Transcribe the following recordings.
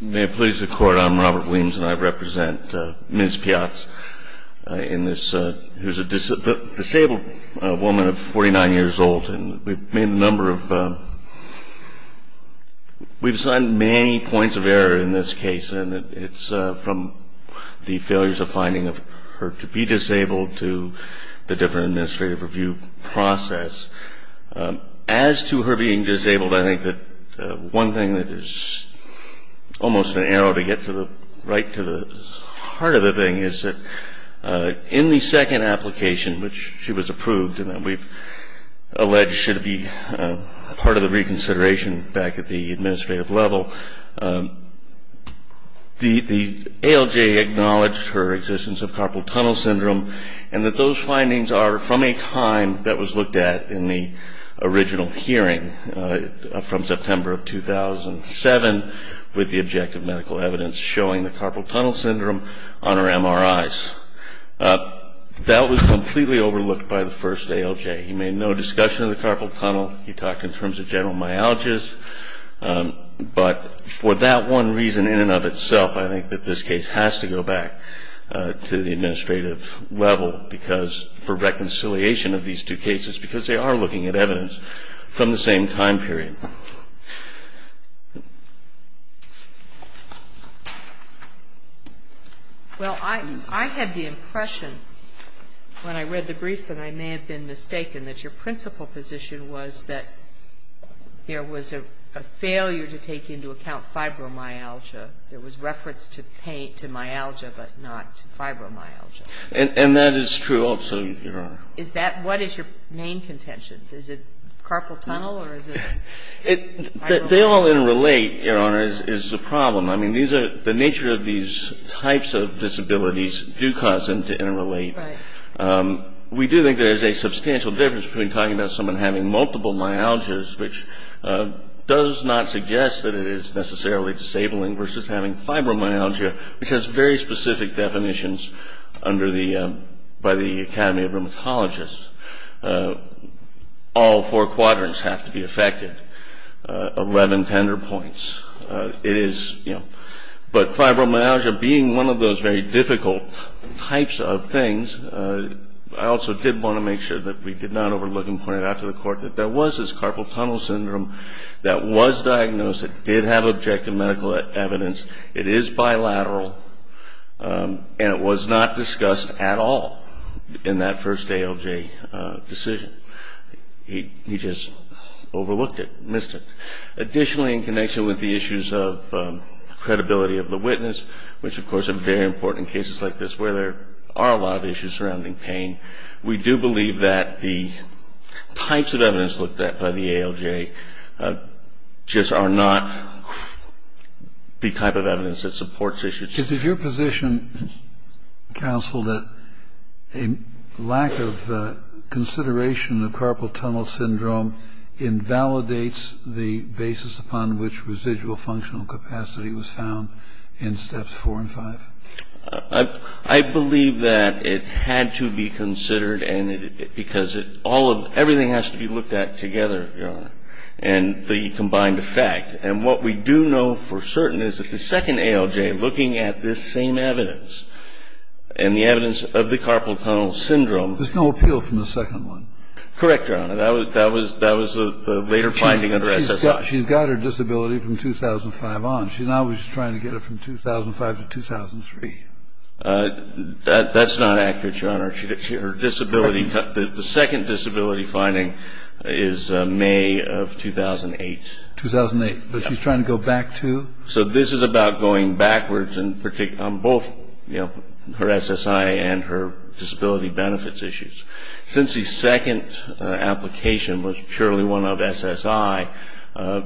May it please the Court, I'm Robert Williams and I represent Ms. Piatz, who is a disabled woman of 49 years old. We've made a number of, we've signed many points of error in this case, and it's from the failures of finding her to be disabled to the different administrative review process. As to her being disabled, I think that one thing that is almost an arrow to get right to the heart of the thing is that in the second application, which she was approved and we've alleged should be part of the reconsideration back at the administrative level, the ALJ acknowledged her existence of carpal tunnel syndrome and that those findings are from a time that was looked at in the original hearing from September of 2007 with the objective medical evidence showing the carpal tunnel syndrome on her MRIs. That was completely overlooked by the first ALJ. He made no discussion of the carpal tunnel, he talked in terms of general myalgias, but for that one reason in and of itself, I think that this case has to go back to the administrative level because for reconciliation of these two cases, because they are looking at evidence from the same time period. Well, I had the impression when I read the briefs that I may have been mistaken that your principal position was that there was a failure to take into account fibromyalgia. There was reference to myalgia, but not fibromyalgia. And that is true also, Your Honor. Is that what is your main contention? Is it carpal tunnel or is it fibromyalgia? They all interrelate, Your Honor, is the problem. I mean, the nature of these types of disabilities do cause them to interrelate. Right. We do think there is a substantial difference between talking about someone having multiple myalgias, which does not suggest that it is necessarily disabling, versus having fibromyalgia, which has very specific definitions by the Academy of Rheumatologists. All four quadrants have to be affected, 11 tender points. But fibromyalgia being one of those very difficult types of things, I also did want to make sure that we did not overlook and point it out to the Court that there was this carpal tunnel syndrome that was diagnosed, it did have objective medical evidence, it is bilateral, and it was not discussed at all in that first ALJ decision. He just overlooked it, missed it. Additionally, in connection with the issues of credibility of the witness, which of course are very important in cases like this where there are a lot of issues surrounding pain, we do believe that the types of evidence looked at by the ALJ just are not the type of evidence that supports issues. Is it your position, counsel, that a lack of consideration of carpal tunnel syndrome invalidates the basis upon which residual functional capacity was found in Steps 4 and 5? I believe that it had to be considered because everything has to be looked at together, Your Honor, and the combined effect. And what we do know for certain is that the second ALJ, looking at this same evidence, and the evidence of the carpal tunnel syndrome There's no appeal from the second one. Correct, Your Honor. That was the later finding under SSI. She's got her disability from 2005 on. She's now trying to get it from 2005 to 2003. That's not accurate, Your Honor. The second disability finding is May of 2008. 2008. But she's trying to go back to? So this is about going backwards on both her SSI and her disability benefits issues. Since the second application was purely one of SSI,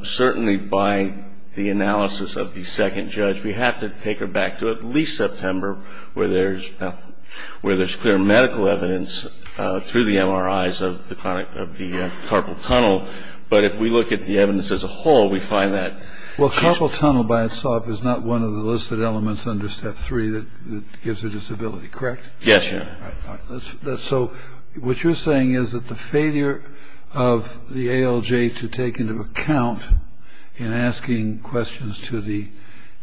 certainly by the analysis of the second judge, we have to take her back to at least September where there's clear medical evidence through the MRIs of the carpal tunnel. But if we look at the evidence as a whole, we find that she's? The carpal tunnel by itself is not one of the listed elements under Step 3 that gives her disability. Correct? Yes, Your Honor. So what you're saying is that the failure of the ALJ to take into account in asking questions to the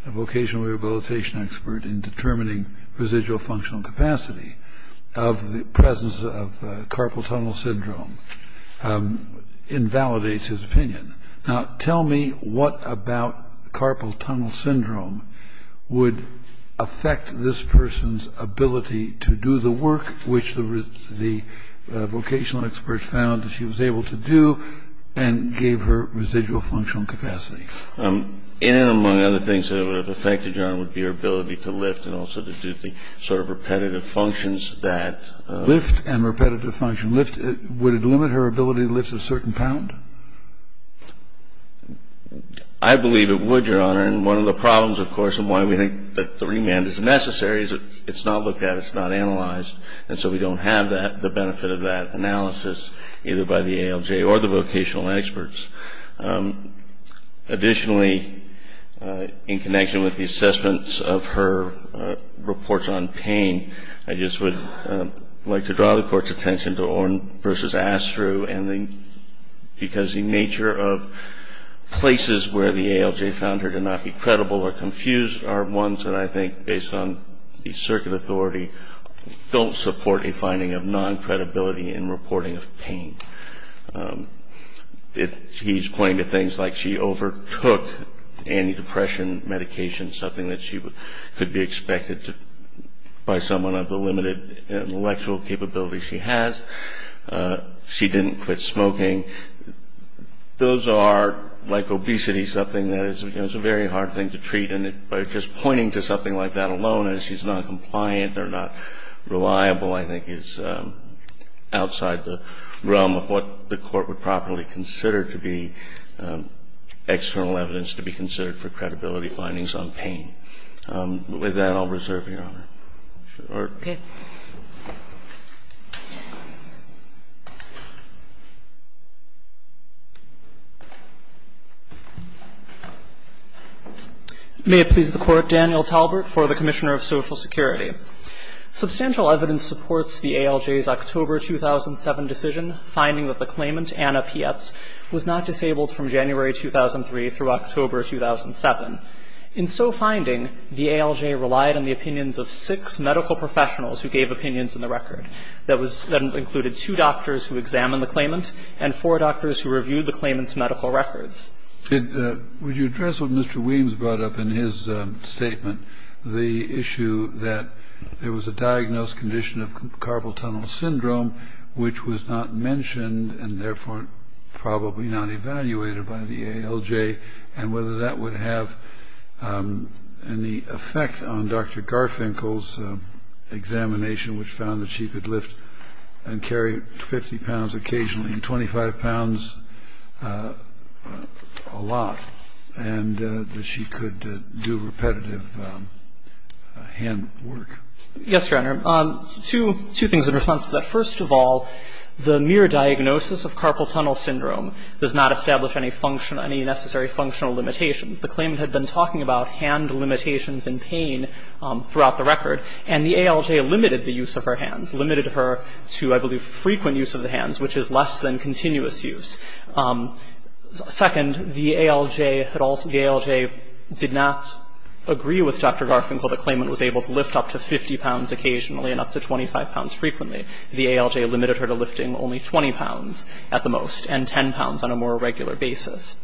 vocational rehabilitation expert in determining residual functional capacity of the presence of carpal tunnel syndrome invalidates his opinion. Now, tell me what about carpal tunnel syndrome would affect this person's ability to do the work which the vocational expert found that she was able to do and gave her residual functional capacity. And among other things that would have affected, Your Honor, would be her ability to lift and also to do the sort of repetitive functions that? Lift and repetitive function. Would it limit her ability to lift a certain pound? I believe it would, Your Honor, and one of the problems, of course, and why we think that the remand is necessary is it's not looked at, it's not analyzed, and so we don't have the benefit of that analysis either by the ALJ or the vocational experts. Additionally, in connection with the assessments of her reports on pain, I just would like to draw the Court's attention to Oren v. Astru because the nature of places where the ALJ found her to not be credible or confused are ones that I think, based on the circuit authority, don't support a finding of non-credibility in reporting of pain. He's pointing to things like she overtook antidepressant medication, something that she could be expected by someone of the limited intellectual capability she has. She didn't quit smoking. Those are, like obesity, something that is a very hard thing to treat, and by just pointing to something like that alone as she's not compliant or not reliable, I think is outside the realm of what the Court would properly consider to be external evidence to be considered for credibility findings on pain. With that, I'll reserve your honor. MS. TALBERT. Okay. May it please the Court, Daniel Talbert for the Commissioner of Social Security. Substantial evidence supports the ALJ's October 2007 decision finding that the claimant, was not disabled from January 2003 through October 2007. In so finding, the ALJ relied on the opinions of six medical professionals who gave opinions in the record. That included two doctors who examined the claimant and four doctors who reviewed the claimant's medical records. Would you address what Mr. Weems brought up in his statement, the issue that there was a diagnosed condition of carpal tunnel syndrome, which was not mentioned and therefore probably not evaluated by the ALJ, and whether that would have any effect on Dr. Garfinkel's examination, which found that she could lift and carry 50 pounds occasionally and 25 pounds a lot, and that she could do repetitive hand work? Yes, Your Honor. Two things in response to that. First of all, the mere diagnosis of carpal tunnel syndrome does not establish any necessary functional limitations. The claimant had been talking about hand limitations and pain throughout the record, and the ALJ limited the use of her hands, limited her to, I believe, frequent use of the hands, which is less than continuous use. Second, the ALJ did not agree with Dr. Garfinkel that the claimant was able to lift up to 50 pounds occasionally and up to 25 pounds frequently. The ALJ limited her to lifting only 20 pounds at the most and 10 pounds on a more regular basis.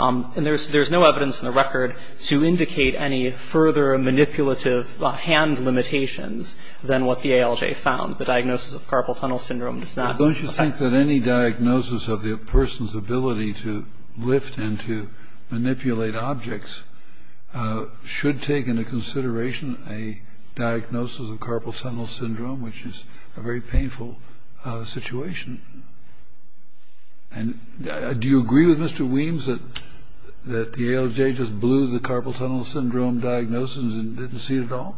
And there's no evidence in the record to indicate any further manipulative hand limitations than what the ALJ found. The diagnosis of carpal tunnel syndrome does not affect that. But don't you think that any diagnosis of the person's ability to lift and to manipulate objects should take into consideration a diagnosis of carpal tunnel syndrome, which is a very painful situation? And do you agree with Mr. Weems that the ALJ just blew the carpal tunnel syndrome diagnosis and didn't see it at all?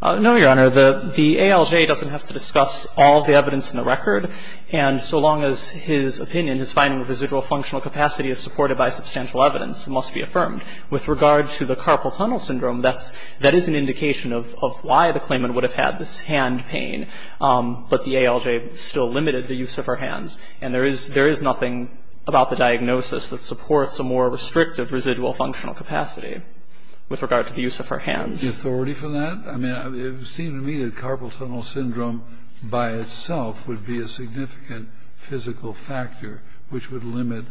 No, Your Honor. The ALJ doesn't have to discuss all the evidence in the record. And so long as his opinion, his finding of residual functional capacity is supported by substantial evidence, it must be affirmed. With regard to the carpal tunnel syndrome, that is an indication of why the claimant would have had this hand pain, but the ALJ still limited the use of her hands. And there is nothing about the diagnosis that supports a more restrictive residual functional capacity with regard to the use of her hands. The authority for that? I mean, it seemed to me that carpal tunnel syndrome by itself would be a significant physical factor which would limit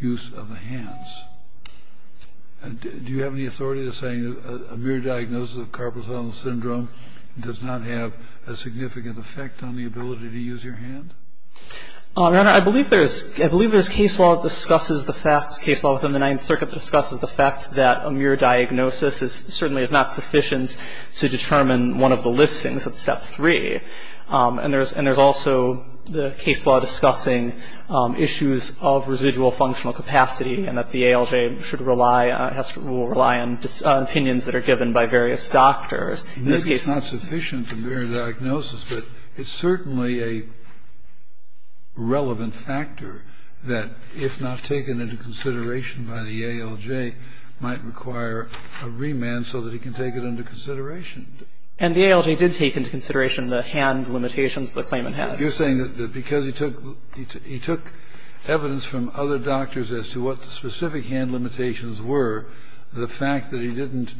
use of the hands. Do you have any authority in saying that a mere diagnosis of carpal tunnel syndrome does not have a significant effect on the ability to use your hand? Your Honor, I believe there is case law that discusses the fact, case law within the Ninth Circuit that discusses the fact that a mere diagnosis certainly is not sufficient to determine one of the listings at step three. And there's also the case law discussing issues of residual functional capacity and that the ALJ should rely, will rely on opinions that are given by various doctors. In this case, It's not sufficient to bear a diagnosis, but it's certainly a relevant factor that, if not taken into consideration by the ALJ, might require a remand so that he can take it into consideration. And the ALJ did take into consideration the hand limitations the claimant had? You're saying that because he took, he took evidence from other doctors as to what the specific hand limitations were, the fact that he didn't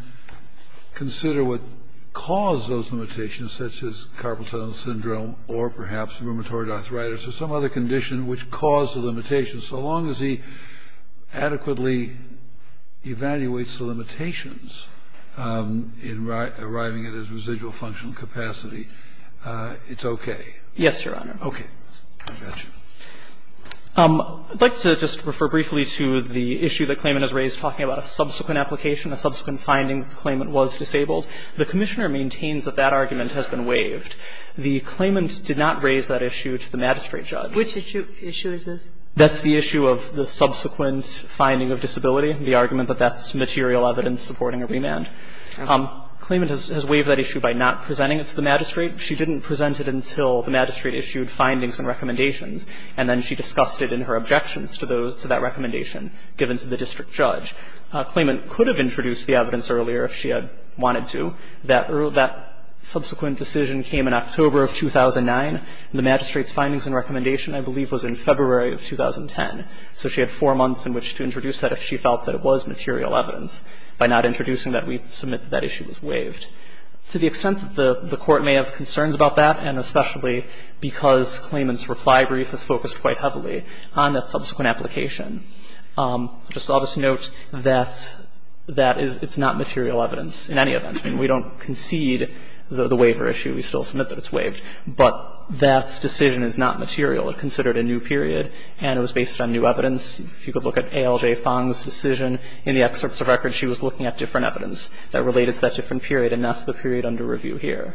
consider what caused those limitations, such as carpal tunnel syndrome, or perhaps rheumatoid arthritis, or some other condition which caused the limitations. So long as he adequately evaluates the limitations in arriving at his residual functional capacity, it's okay? Yes, Your Honor. Okay. I got you. I'd like to just refer briefly to the issue that claimant has raised talking about a subsequent application, a subsequent finding that the claimant was disabled. The Commissioner maintains that that argument has been waived. The claimant did not raise that issue to the magistrate judge. Which issue is this? That's the issue of the subsequent finding of disability, the argument that that's material evidence supporting a remand. Okay. Claimant has waived that issue by not presenting it to the magistrate. She didn't present it until the magistrate issued findings and recommendations, and then she discussed it in her objections to those, to that recommendation given to the district judge. Claimant could have introduced the evidence earlier if she had wanted to. That subsequent decision came in October of 2009. The magistrate's findings and recommendation, I believe, was in February of 2010. So she had four months in which to introduce that if she felt that it was material evidence by not introducing that we submit that that issue was waived. To the extent that the Court may have concerns about that, and especially because claimant's reply brief is focused quite heavily on that subsequent application, just I'll just note that that is, it's not material evidence in any event. I mean, we don't concede the waiver issue. We still submit that it's waived. But that decision is not material. It's considered a new period and it was based on new evidence. If you could look at A.L.J. Fong's decision in the excerpts of records, she was looking at different evidence that related to that different period, and that's the period under review here.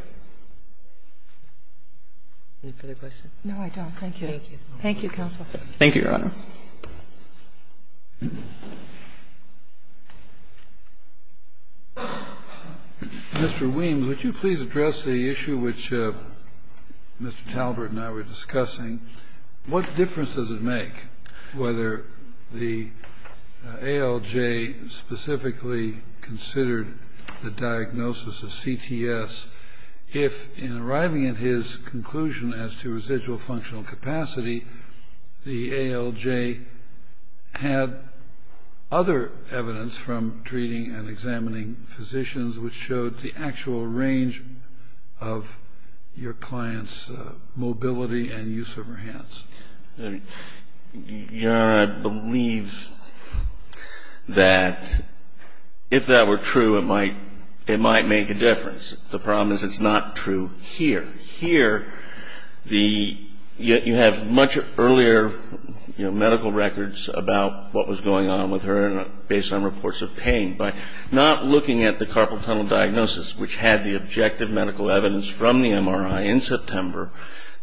No, I don't. Thank you, counsel. Thank you, Your Honor. Mr. Weems, would you please address the issue which Mr. Talbert and I were discussing? What difference does it make whether the ALJ specifically considered the diagnosis of CTS if in arriving at his conclusion as to residual functional capacity, the ALJ had other evidence from treating and examining physicians which showed the actual range of your client's mobility and use of her hands? Your Honor, I believe that if that were true, it might make a difference. The problem is it's not true here. You have much earlier medical records about what was going on with her based on reports of pain. By not looking at the carpal tunnel diagnosis, which had the objective medical evidence from the MRI in September,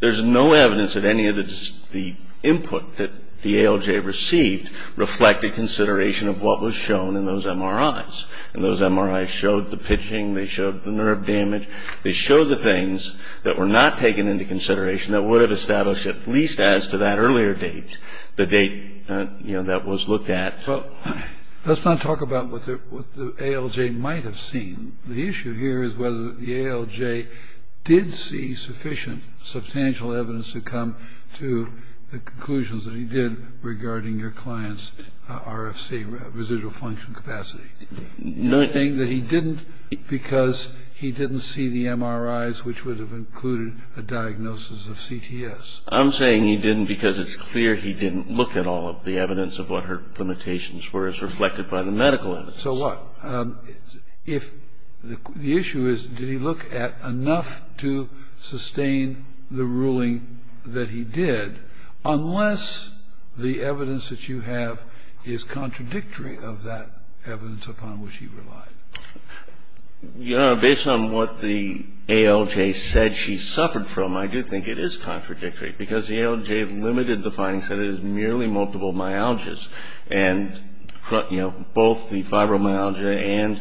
there's no evidence that any of the input that the ALJ received reflected consideration of what was shown in those MRIs. And those MRIs showed the pitching. They showed the nerve damage. They showed the things that were not taken into consideration that would have established at least as to that earlier date, the date, you know, that was looked at. Well, let's not talk about what the ALJ might have seen. The issue here is whether the ALJ did see sufficient substantial evidence to come to the conclusions that he did regarding your client's RFC, residual functional capacity. You're saying that he didn't because he didn't see the MRIs, which would have included a diagnosis of CTS. I'm saying he didn't because it's clear he didn't look at all of the evidence of what her limitations were as reflected by the medical evidence. So what? If the issue is did he look at enough to sustain the ruling that he did, unless the evidence that you have is contradictory of that evidence upon which he relied? Your Honor, based on what the ALJ said she suffered from, I do think it is contradictory because the ALJ limited the findings, said it is merely multiple myalgias. And, you know, both the fibromyalgia and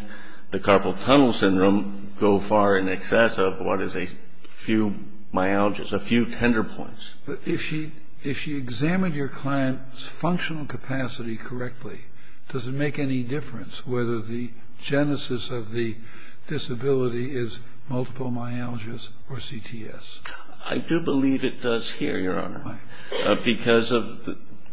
the carpal tunnel syndrome go far in excess of what is a few myalgias, a few tender points. If she examined your client's functional capacity correctly, does it make any difference whether the genesis of the disability is multiple myalgias or CTS? I do believe it does here, Your Honor, because of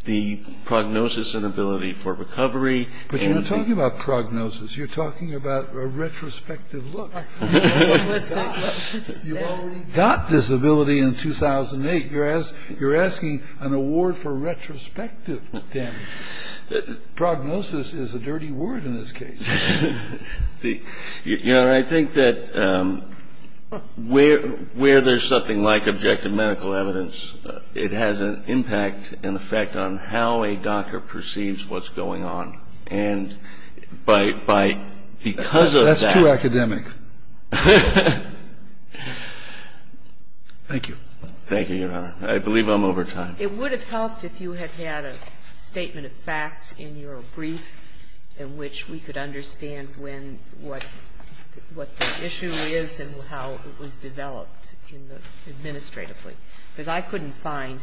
the prognosis and ability for recovery. But you're not talking about prognosis. You're talking about a retrospective look. What was that? You already got disability in 2008. You're asking an award for retrospective damage. Prognosis is a dirty word in this case. Your Honor, I think that where there's something like objective medical evidence, it has an impact and effect on how a doctor perceives what's going on. And by because of that. That's too academic. Thank you. Thank you, Your Honor. I believe I'm over time. It would have helped if you had had a statement of facts in your brief in which we could understand when, what the issue is and how it was developed in the administrative way, because I couldn't find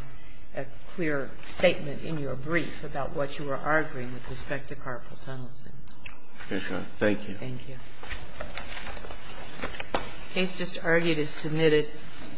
a clear statement in your brief about what you were arguing with respect to carpal tunnel syndrome. Thank you. Thank you. Case just argued as submitted.